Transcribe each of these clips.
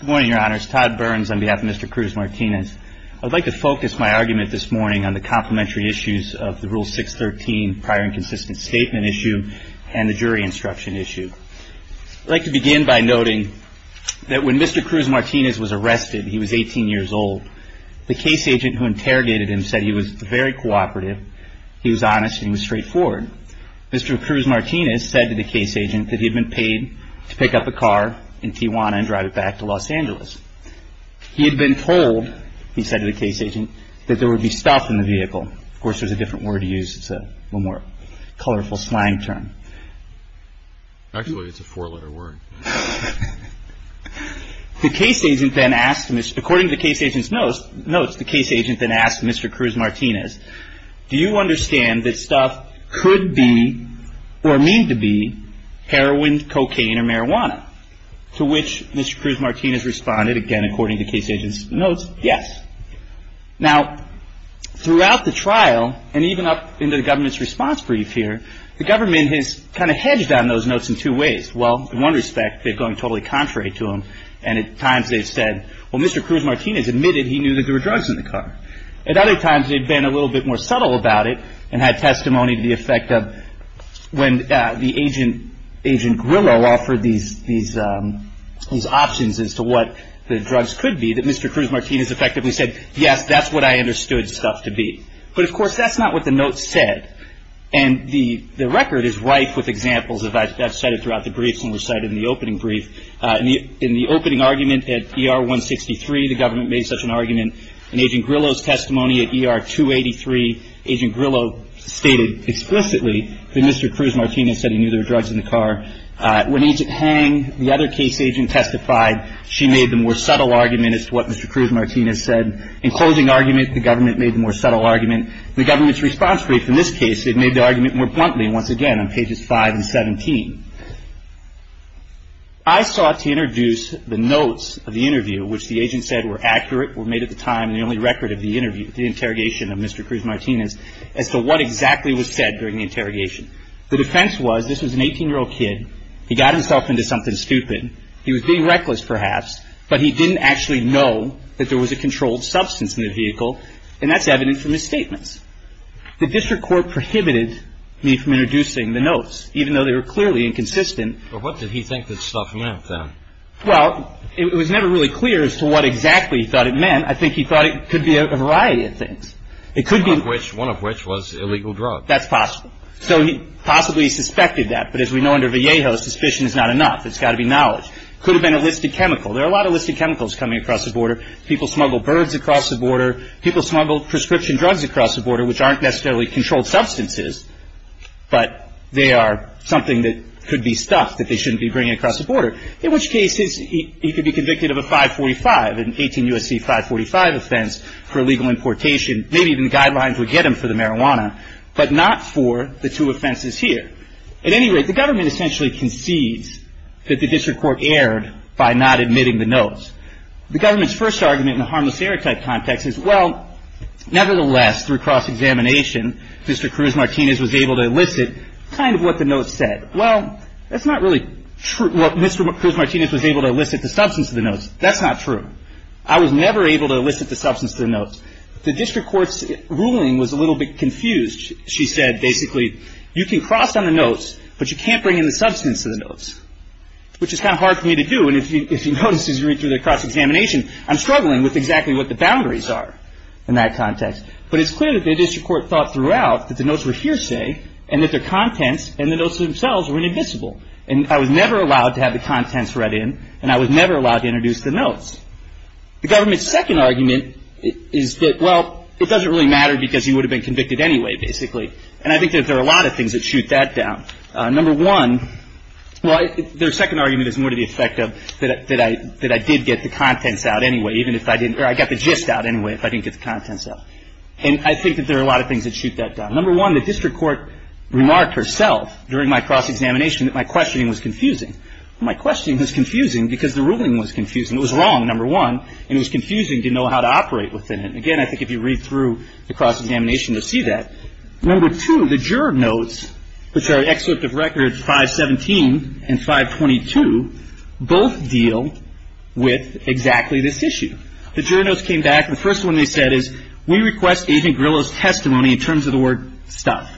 Good morning, your honors. Todd Burns on behalf of Mr. Cruz-Martinez. I'd like to focus my argument this morning on the complementary issues of the Rule 613 prior and consistent statement issue and the jury instruction issue. I'd like to begin by noting that when Mr. Cruz-Martinez was arrested, he was 18 years old. The case agent who interrogated him said he was very cooperative, he was honest, and he was straightforward. Mr. Cruz-Martinez said to the case agent that he had been paid to pick up a car in Tijuana and drive it back to Los Angeles. He had been told, he said to the case agent, that there would be stuff in the vehicle. Of course, there's a different word to use, it's a more colorful slang term. Actually, it's a four-letter word. According to the case agent's notes, the case agent then asked Mr. Cruz-Martinez, do you understand that stuff could be, or mean to be, heroin, cocaine, or marijuana? To which Mr. Cruz-Martinez responded, again, according to case agent's notes, yes. Now, throughout the trial, and even up into the government's response brief here, the government has kind of hedged on those notes in two ways. Well, in one respect, they've gone totally contrary to him, and at times they've said, well, Mr. Cruz-Martinez admitted he knew that there were drugs in the car. At other times, they've been a little bit more subtle about it, and had testimony to the effect of, when the agent, Agent Grillo, offered these options as to what the drugs could be, that Mr. Cruz-Martinez effectively said, yes, that's what I understood stuff to be. But of course, that's not what the notes said. And the record is rife with examples, as I've cited throughout the briefs and recited in the opening brief. In the opening argument at ER 163, the government made such an argument. In Agent Grillo's testimony at ER 283, Agent Grillo stated explicitly that Mr. Cruz-Martinez said he knew there were drugs in the car. When Agent Hang, the other case agent, testified, she made the more subtle argument as to what Mr. Cruz-Martinez said. In closing argument, the government made the more subtle argument. The government's response brief in this case, it made the argument more bluntly, once again, on pages 5 and 17. I sought to introduce the notes of the interview, which the agent said were accurate, were made at the time, and the only record of the interview, the interrogation of Mr. Cruz-Martinez, as to what exactly was said during the interrogation. The defense was, this was an 18-year-old kid. He got himself into something stupid. He was being reckless, perhaps, but he didn't actually know that there was a controlled substance in the vehicle, and that's evident from his statements. The district court prohibited me from introducing the notes, even though they were clearly inconsistent. But what did he think this stuff meant, then? Well, it was never really clear as to what exactly he thought it meant. I think he thought it could be a variety of things. One of which was illegal drugs. That's possible. So he possibly suspected that, but as we know under Vallejo, suspicion is not enough. It's got to be knowledge. It could have been a listed chemical. There are a lot of listed chemicals coming across the border. People smuggle birds across the border. People smuggle prescription drugs across the border, which aren't necessarily controlled substances, but they are something that could be stuff that they shouldn't be bringing across the border. In which case, he could be convicted of a 545, an 18 U.S.C. 545 offense for illegal importation. Maybe even guidelines would get him for the marijuana, but not for the two offenses here. At any rate, the government essentially concedes that the district court erred by not admitting the notes. The government's first argument in the harmless stereotype context is, well, nevertheless, through cross-examination, Mr. Cruz-Martinez was able to elicit kind of what the notes said. Well, that's not really true. Mr. Cruz-Martinez was able to elicit the substance of the notes. That's not true. I was never able to elicit the substance of the notes. The district court's ruling was a little bit confused. She said basically, you can cross on the notes, but you can't bring in the substance of the notes. Which is kind of hard for me to do. And if you notice as you read through the cross-examination, I'm struggling with exactly what the boundaries are in that context. But it's clear that the district court thought throughout that the notes were hearsay, and that their contents and the notes themselves were inadmissible. And I was never allowed to have the contents read in, and I was never allowed to introduce the notes. The government's second argument is that, well, it doesn't really matter because he would have been convicted anyway, basically. And I think that there are a lot of things that shoot that down. Number one, well, their second argument is more to the effect of that I did get the contents out anyway, even if I didn't or I got the gist out anyway if I didn't get the contents out. And I think that there are a lot of things that shoot that down. Number one, the district court remarked herself during my cross-examination that my questioning was confusing. My questioning was confusing because the ruling was confusing. It was wrong, number one, and it was confusing to know how to operate within it. Again, I think if you read through the cross-examination, you'll see that. Number two, the juror notes, which are excerpt of records 517 and 522, both deal with exactly this issue. The juror notes came back. The first one they said is, we request Agent Grillo's testimony in terms of the word stuff.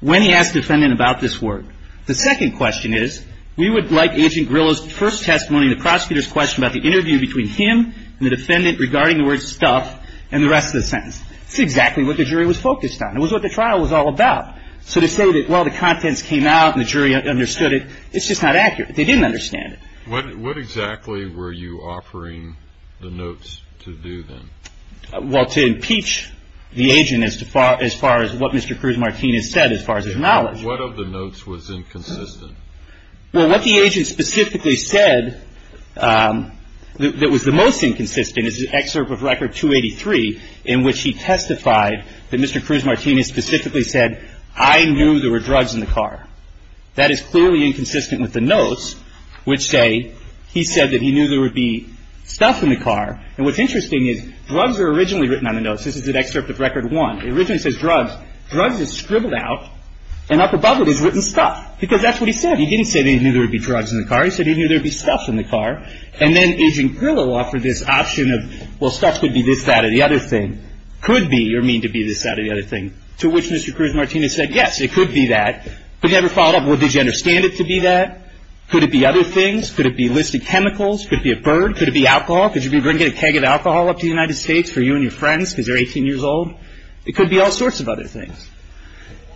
When he asked the defendant about this word, the second question is, we would like Agent Grillo's first testimony in the prosecutor's question about the interview between him and the defendant regarding the word stuff and the rest of the sentence. That's exactly what the jury was focused on. It was what the trial was all about. So to say that, well, the contents came out and the jury understood it, it's just not accurate. They didn't understand it. What exactly were you offering the notes to do then? Well, to impeach the agent as far as what Mr. Cruz-Martinez said as far as his knowledge. What of the notes was inconsistent? Well, what the agent specifically said that was the most inconsistent is an excerpt of record 283 in which he testified that Mr. Cruz-Martinez specifically said, I knew there were drugs in the car. That is clearly inconsistent with the notes which say he said that he knew there would be stuff in the car. And what's interesting is drugs are originally written on the notes. This is an excerpt of record one. It originally says drugs. Drugs is scribbled out, and up above it is written stuff, because that's what he said. He didn't say he knew there would be drugs in the car. He said he knew there would be stuff in the car. And then Agent Perlow offered this option of, well, stuff could be this, that, or the other thing. Could be or mean to be this, that, or the other thing, to which Mr. Cruz-Martinez said, yes, it could be that. But he never followed up, well, did you understand it to be that? Could it be other things? Could it be listed chemicals? Could it be a bird? Could it be alcohol? Could you be bringing a keg of alcohol up to the United States for you and your friends because they're 18 years old? It could be all sorts of other things.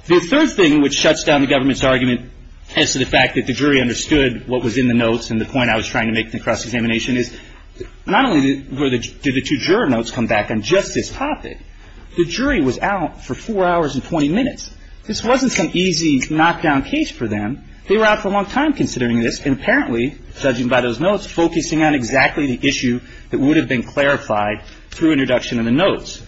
The third thing which shuts down the government's argument as to the fact that the jury understood what was in the notes and the point I was trying to make in the cross-examination is not only did the two juror notes come back on just this topic, the jury was out for four hours and 20 minutes. This wasn't some easy knockdown case for them. They were out for a long time considering this, and apparently, judging by those notes, focusing on exactly the issue that would have been clarified through introduction of the notes.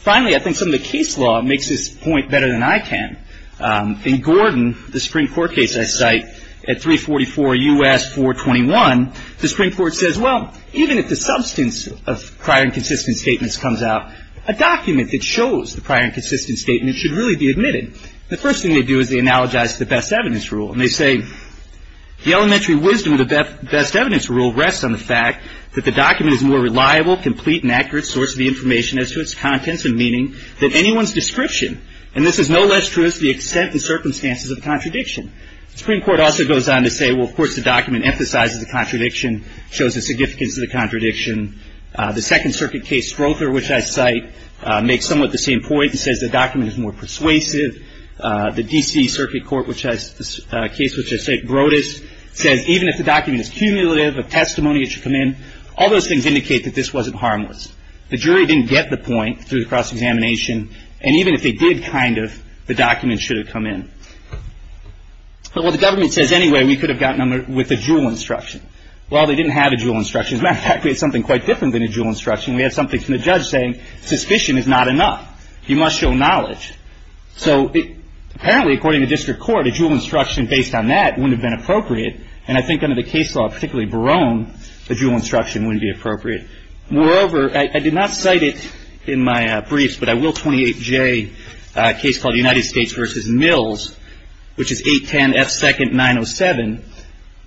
Finally, I think some of the case law makes this point better than I can. In Gordon, the Supreme Court case I cite at 344 U.S. 421, the Supreme Court says, well, even if the substance of prior and consistent statements comes out, a document that shows the prior and consistent statement should really be admitted. The first thing they do is they analogize to the best evidence rule, and they say, the elementary wisdom of the best evidence rule rests on the fact that the document is a more reliable, complete, and accurate source of the information as to its contents and meaning than anyone's description. And this is no less true as to the extent and circumstances of the contradiction. The Supreme Court also goes on to say, well, of course, the document emphasizes the contradiction, shows the significance of the contradiction. The Second Circuit case Strother, which I cite, makes somewhat the same point. It says the document is more persuasive. The D.C. Circuit Court case, which I cite, Broadus, says even if the document is cumulative, a testimony should come in. All those things indicate that this wasn't harmless. The jury didn't get the point through the cross-examination, and even if they did, kind of, the document should have come in. Well, the government says, anyway, we could have gotten them with a dual instruction. Well, they didn't have a dual instruction. As a matter of fact, we had something quite different than a dual instruction. We had something from the judge saying, suspicion is not enough. You must show knowledge. So apparently, according to district court, a dual instruction based on that wouldn't have been appropriate, and I think under the case law, particularly Barone, a dual instruction wouldn't be appropriate. Moreover, I did not cite it in my briefs, but I will 28J, a case called United States v. Mills, which is 810F2nd907,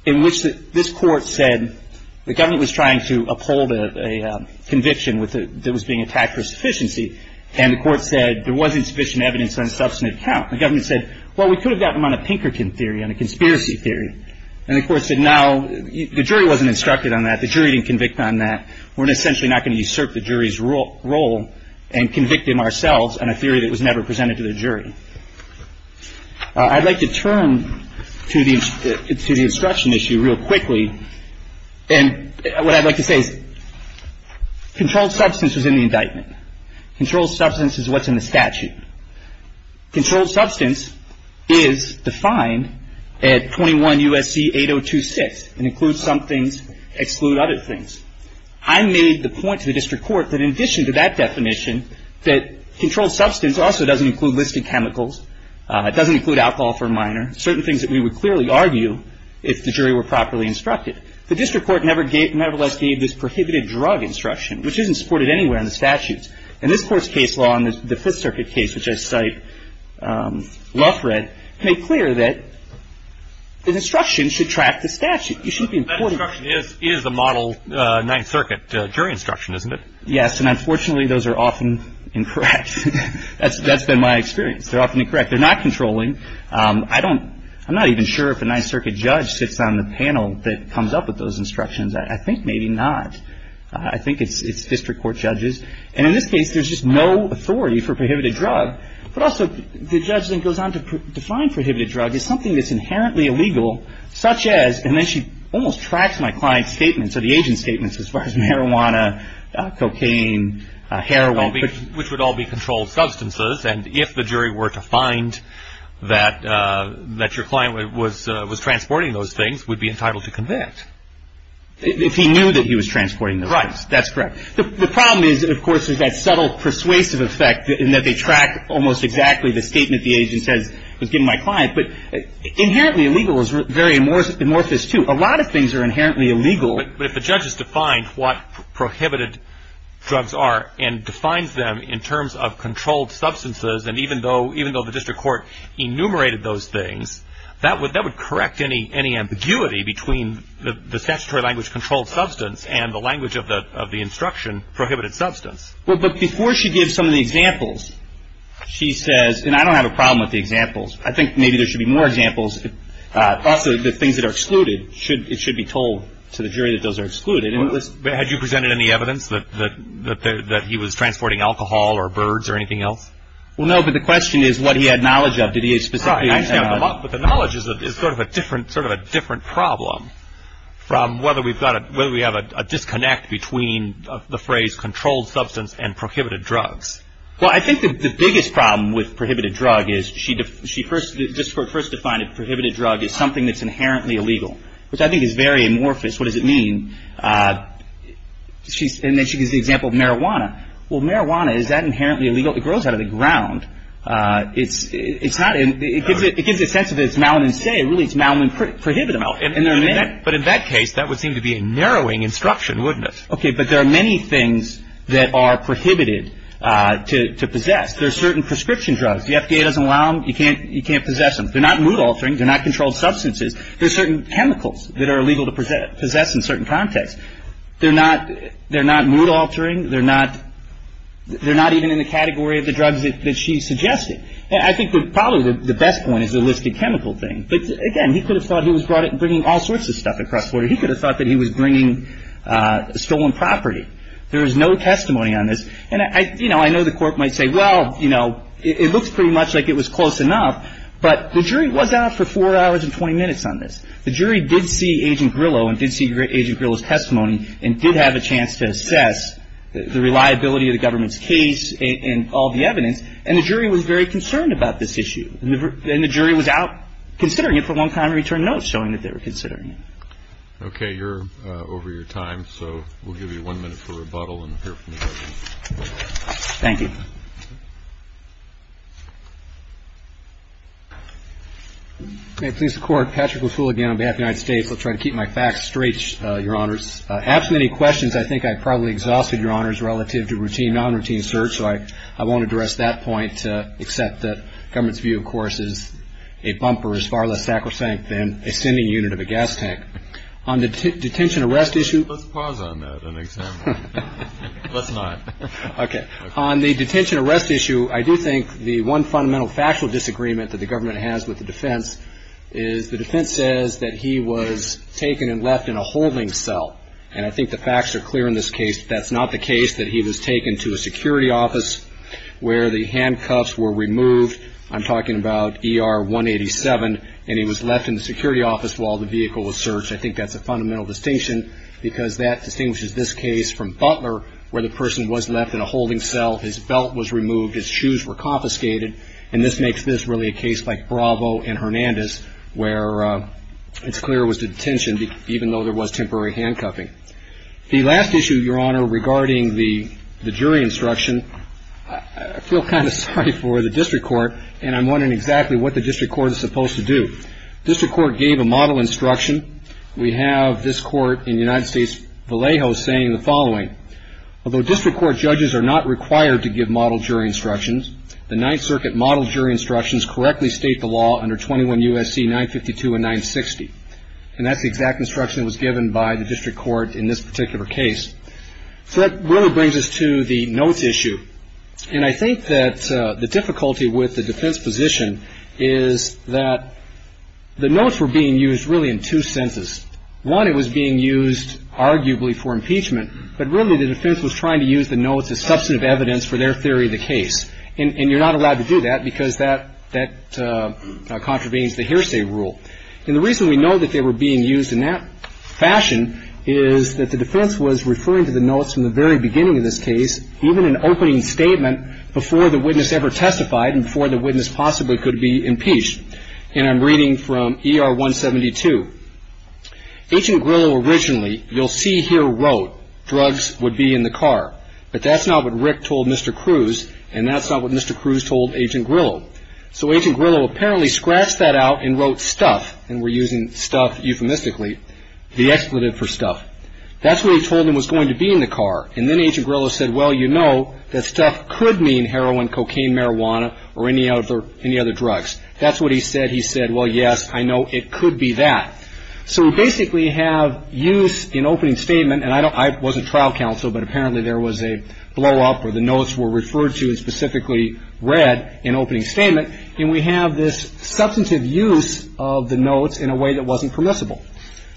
in which this Court said the government was trying to uphold a conviction that was being attacked for sufficiency, and the Court said there wasn't sufficient evidence on a substantive count. The government said, well, we could have gotten them on a Pinkerton theory, on a conspiracy theory. And the Court said, now, the jury wasn't instructed on that. The jury didn't convict on that. We're essentially not going to usurp the jury's role and convict them ourselves on a theory that was never presented to the jury. I'd like to turn to the instruction issue real quickly. And what I'd like to say is controlled substance was in the indictment. Controlled substance is what's in the statute. Controlled substance is defined at 21 U.S.C. 8026. It includes some things, excludes other things. I made the point to the district court that in addition to that definition, that controlled substance also doesn't include listed chemicals. It doesn't include alcohol for a minor. Certain things that we would clearly argue if the jury were properly instructed. The district court nevertheless gave this prohibited drug instruction, which isn't supported anywhere in the statutes. And this Court's case law on the Fifth Circuit case, which I cite Loughred, made clear that the instruction should track the statute. That instruction is the model Ninth Circuit jury instruction, isn't it? Yes, and unfortunately those are often incorrect. That's been my experience. They're often incorrect. They're not controlling. I'm not even sure if a Ninth Circuit judge sits on the panel that comes up with those instructions. I think maybe not. I think it's district court judges. And in this case, there's just no authority for prohibited drug. But also the judge then goes on to define prohibited drug as something that's inherently illegal, such as, and then she almost tracks my client's statements or the agent's statements as far as marijuana, cocaine, heroin. Which would all be controlled substances. And if the jury were to find that your client was transporting those things, would be entitled to convict. If he knew that he was transporting those things. Right, that's correct. The problem is, of course, is that subtle persuasive effect in that they track almost exactly the statement the agent says was given to my client. But inherently illegal is very amorphous too. A lot of things are inherently illegal. But if the judge has defined what prohibited drugs are and defines them in terms of controlled substances, and even though the district court enumerated those things, that would correct any ambiguity between the statutory language controlled substance and the language of the instruction prohibited substance. But before she gives some of the examples, she says, and I don't have a problem with the examples. I think maybe there should be more examples. Also, the things that are excluded, it should be told to the jury that those are excluded. Had you presented any evidence that he was transporting alcohol or birds or anything else? Well, no, but the question is what he had knowledge of. Did he specifically? I didn't have a lot, but the knowledge is sort of a different problem from whether we have a disconnect between the phrase controlled substance and prohibited drugs. Well, I think the biggest problem with prohibited drug is she first, the district court first defined a prohibited drug as something that's inherently illegal, which I think is very amorphous. What does it mean? And then she gives the example of marijuana. Well, marijuana, is that inherently illegal? It grows out of the ground. It's not, it gives a sense that it's malignancy. Really, it's malignant prohibited. But in that case, that would seem to be a narrowing instruction, wouldn't it? Okay, but there are many things that are prohibited to possess. There are certain prescription drugs. The FDA doesn't allow them. You can't possess them. They're not mood-altering. They're not controlled substances. There are certain chemicals that are illegal to possess in certain contexts. They're not mood-altering. They're not even in the category of the drugs that she's suggesting. I think probably the best point is the listed chemical thing. But, again, he could have thought he was bringing all sorts of stuff across the border. He could have thought that he was bringing stolen property. There is no testimony on this. And, you know, I know the Court might say, well, you know, it looks pretty much like it was close enough. But the jury was out for 4 hours and 20 minutes on this. The jury did see Agent Grillo and did see Agent Grillo's testimony and did have a chance to assess the reliability of the government's case and all the evidence. And the jury was very concerned about this issue. And the jury was out considering it for a long time and returned notes showing that they were considering it. Okay. You're over your time. So we'll give you one minute for rebuttal and hear from the judges. Thank you. May it please the Court, Patrick McCool again on behalf of the United States. I'll try to keep my facts straight, Your Honors. After many questions, I think I probably exhausted, Your Honors, relative to routine, non-routine search. So I won't address that point except that the government's view, of course, is a bumper, or as far less sacrosanct than a sending unit of a gas tank. On the detention arrest issue. Let's pause on that and examine it. Let's not. Okay. On the detention arrest issue, I do think the one fundamental factual disagreement that the government has with the defense is the defense says that he was taken and left in a holding cell. And I think the facts are clear in this case. That's not the case that he was taken to a security office where the handcuffs were removed. I'm talking about ER 187, and he was left in the security office while the vehicle was searched. I think that's a fundamental distinction because that distinguishes this case from Butler, where the person was left in a holding cell, his belt was removed, his shoes were confiscated. And this makes this really a case like Bravo and Hernandez, where it's clear it was detention, even though there was temporary handcuffing. The last issue, Your Honor, regarding the jury instruction, I feel kind of sorry for the district court, and I'm wondering exactly what the district court is supposed to do. District court gave a model instruction. We have this court in the United States Vallejo saying the following. Although district court judges are not required to give model jury instructions, the Ninth Circuit model jury instructions correctly state the law under 21 U.S.C. 952 and 960. And that's the exact instruction that was given by the district court in this particular case. So that really brings us to the notes issue. And I think that the difficulty with the defense position is that the notes were being used really in two senses. One, it was being used arguably for impeachment, but really the defense was trying to use the notes as substantive evidence for their theory of the case. And you're not allowed to do that because that contravenes the hearsay rule. And the reason we know that they were being used in that fashion is that the defense was referring to the notes from the very beginning of this case, even an opening statement, before the witness ever testified and before the witness possibly could be impeached. And I'm reading from ER 172. Agent Grillo originally, you'll see here, wrote drugs would be in the car. But that's not what Rick told Mr. Cruz, and that's not what Mr. Cruz told Agent Grillo. So Agent Grillo apparently scratched that out and wrote stuff, and we're using stuff euphemistically, the expletive for stuff. That's what he told him was going to be in the car. And then Agent Grillo said, well, you know, that stuff could mean heroin, cocaine, marijuana, or any other drugs. That's what he said. He said, well, yes, I know it could be that. So we basically have use in opening statement, and I wasn't trial counsel, but apparently there was a blowup where the notes were referred to and specifically read in opening statement. And we have this substantive use of the notes in a way that wasn't permissible.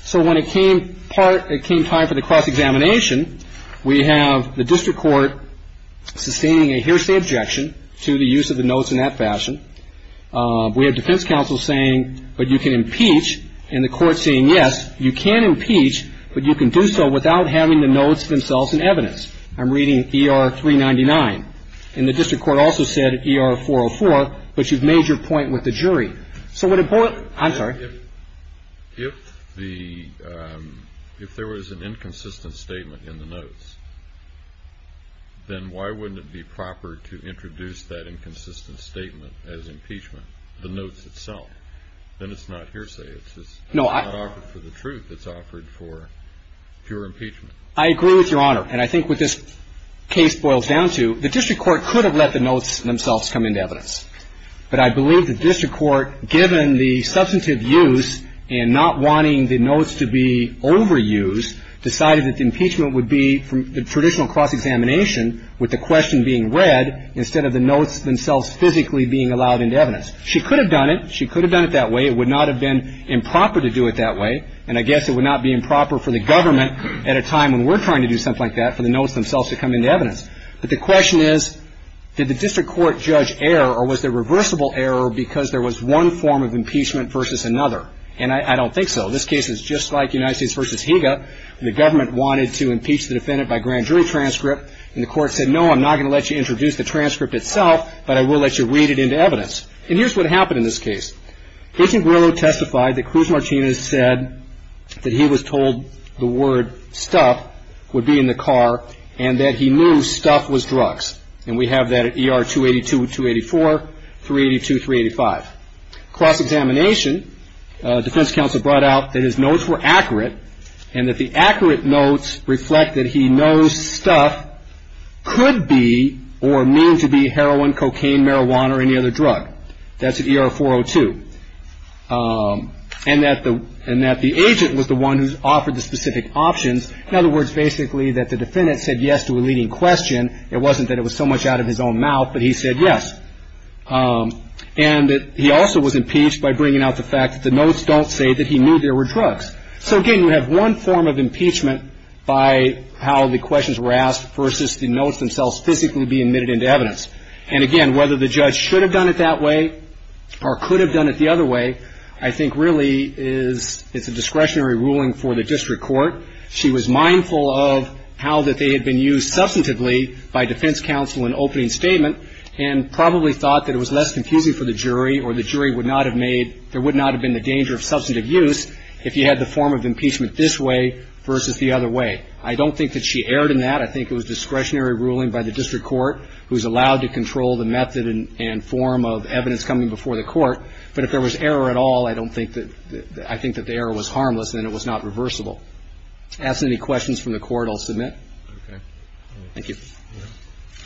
So when it came time for the cross-examination, we have the district court sustaining a hearsay objection to the use of the notes in that fashion. We have defense counsel saying, but you can impeach, and the court saying, yes, you can impeach, but you can do so without having the notes themselves in evidence. I'm reading ER-399. And the district court also said ER-404, but you've made your point with the jury. So what important ‑‑ I'm sorry. If the ‑‑ if there was an inconsistent statement in the notes, then why wouldn't it be proper to introduce that inconsistent statement as impeachment, the notes itself? Then it's not hearsay. It's not offered for the truth. It's offered for pure impeachment. I agree with Your Honor. And I think what this case boils down to, the district court could have let the notes themselves come into evidence. But I believe the district court, given the substantive use and not wanting the notes to be overused, decided that the impeachment would be the traditional cross-examination with the question being read instead of the notes themselves physically being allowed into evidence. She could have done it. She could have done it that way. It would not have been improper to do it that way. And I guess it would not be improper for the government at a time when we're trying to do something like that for the notes themselves to come into evidence. But the question is, did the district court judge error or was there reversible error because there was one form of impeachment versus another? And I don't think so. This case is just like United States v. Higa. The government wanted to impeach the defendant by grand jury transcript. And the court said, no, I'm not going to let you introduce the transcript itself, but I will let you read it into evidence. And here's what happened in this case. Agent Grillo testified that Cruz Martinez said that he was told the word stuff would be in the car and that he knew stuff was drugs. And we have that at ER 282, 284, 382, 385. Cross-examination, defense counsel brought out that his notes were accurate and that the accurate notes reflect that he knows stuff could be or mean to be heroin, cocaine, marijuana or any other drug. That's at ER 402. And that the agent was the one who offered the specific options. In other words, basically that the defendant said yes to a leading question. It wasn't that it was so much out of his own mouth, but he said yes. And that he also was impeached by bringing out the fact that the notes don't say that he knew there were drugs. So, again, you have one form of impeachment by how the questions were asked versus the notes themselves physically being admitted into evidence. And, again, whether the judge should have done it that way or could have done it the other way, I think really is it's a discretionary ruling for the district court. She was mindful of how that they had been used substantively by defense counsel in opening statement and probably thought that it was less confusing for the jury or the jury would not have made, there would not have been the danger of substantive use if you had the form of impeachment this way versus the other way. I don't think that she erred in that. I think it was discretionary ruling by the district court who was allowed to control the method and form of evidence coming before the court. But if there was error at all, I don't think that, I think that the error was harmless and it was not reversible. Asked any questions from the court, I'll submit. Okay. Thank you.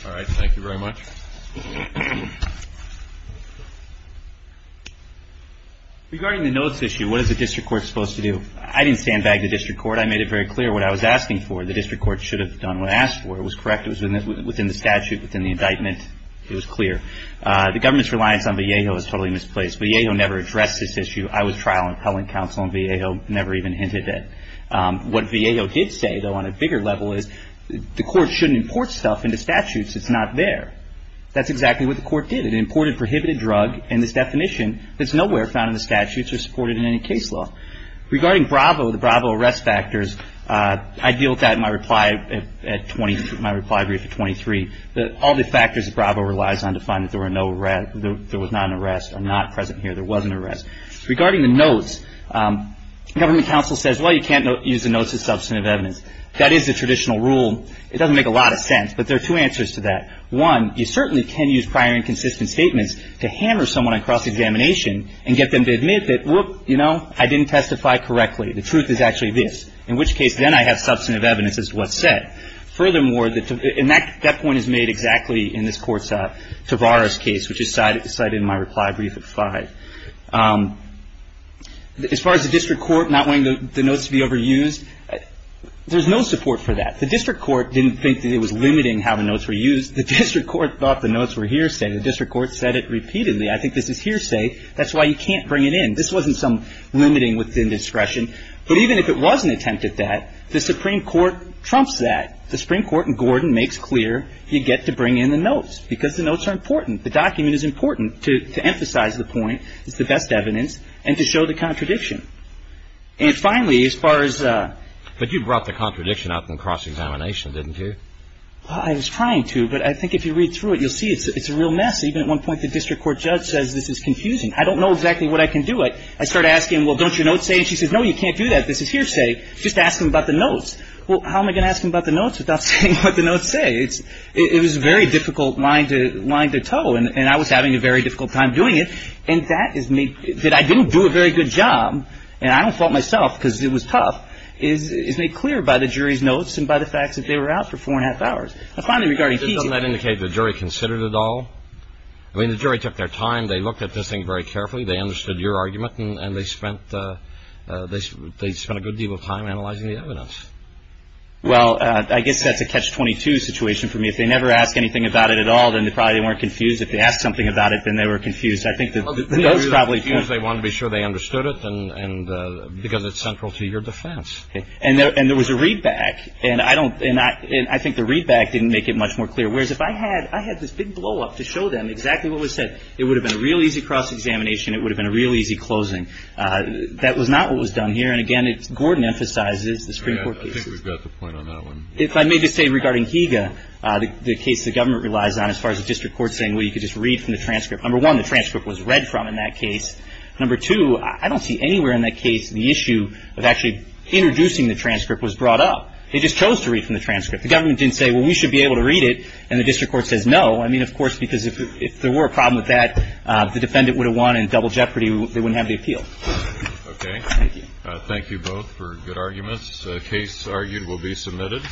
All right. Thank you very much. Regarding the notes issue, what is the district court supposed to do? I didn't stand back to the district court. I made it very clear what I was asking for. The district court should have done what I asked for. It was correct. It was within the statute, within the indictment. It was clear. The government's reliance on Vallejo is totally misplaced. Vallejo never addressed this issue. I was trial and appellate counsel and Vallejo never even hinted at it. What Vallejo did say, though, on a bigger level is the court shouldn't import stuff into statutes. It's not there. That's exactly what the court did. It imported prohibited drug in this definition that's nowhere found in the statutes or supported in any case law. Regarding Bravo, the Bravo arrest factors, I deal with that in my reply brief at 23. All the factors that Bravo relies on to find that there was not an arrest are not present here. There was an arrest. Regarding the notes, government counsel says, well, you can't use the notes as substantive evidence. That is the traditional rule. It doesn't make a lot of sense, but there are two answers to that. One, you certainly can use prior inconsistent statements to hammer someone across examination and get them to admit that, whoop, you know, I didn't testify correctly. The truth is actually this, in which case then I have substantive evidence as to what's said. Furthermore, and that point is made exactly in this Court's Tavares case, which is cited in my reply brief at 5. As far as the district court not wanting the notes to be overused, there's no support for that. The district court didn't think that it was limiting how the notes were used. The district court thought the notes were hearsay. The district court said it repeatedly. I think this is hearsay. That's why you can't bring it in. This wasn't some limiting within discretion. But even if it was an attempt at that, the Supreme Court trumps that. The Supreme Court in Gordon makes clear you get to bring in the notes because the notes are important. The document is important to emphasize the point. It's the best evidence and to show the contradiction. And finally, as far as the ---- But you brought the contradiction up in cross-examination, didn't you? Well, I was trying to, but I think if you read through it, you'll see it's a real mess. Even at one point, the district court judge says this is confusing. I don't know exactly what I can do. I start asking, well, don't your notes say? And she says, no, you can't do that. This is hearsay. Just ask them about the notes. Well, how am I going to ask them about the notes without saying what the notes say? It was a very difficult line to tow, and I was having a very difficult time doing it. And that is me ---- that I didn't do a very good job, and I don't fault myself because it was tough, is made clear by the jury's notes and by the fact that they were out for four and a half hours. Doesn't that indicate the jury considered it all? I mean, the jury took their time. They looked at this thing very carefully. They understood your argument, and they spent a good deal of time analyzing the evidence. Well, I guess that's a catch-22 situation for me. If they never asked anything about it at all, then probably they weren't confused. If they asked something about it, then they were confused. I think the notes probably ---- Because they wanted to be sure they understood it and because it's central to your defense. And there was a readback. And I don't ---- and I think the readback didn't make it much more clear. Whereas, if I had this big blow-up to show them exactly what was said, it would have been a real easy cross-examination. It would have been a real easy closing. That was not what was done here. And, again, Gordon emphasizes the Supreme Court cases. I think we've got the point on that one. If I may just say regarding Higa, the case the government relies on, as far as the district court saying, well, you could just read from the transcript. Number one, the transcript was read from in that case. Number two, I don't see anywhere in that case the issue of actually introducing the transcript was brought up. They just chose to read from the transcript. The government didn't say, well, we should be able to read it. And the district court says no. I mean, of course, because if there were a problem with that, the defendant would have won in double jeopardy. They wouldn't have the appeal. Okay. Thank you. Thank you both for good arguments. The case argued will be submitted.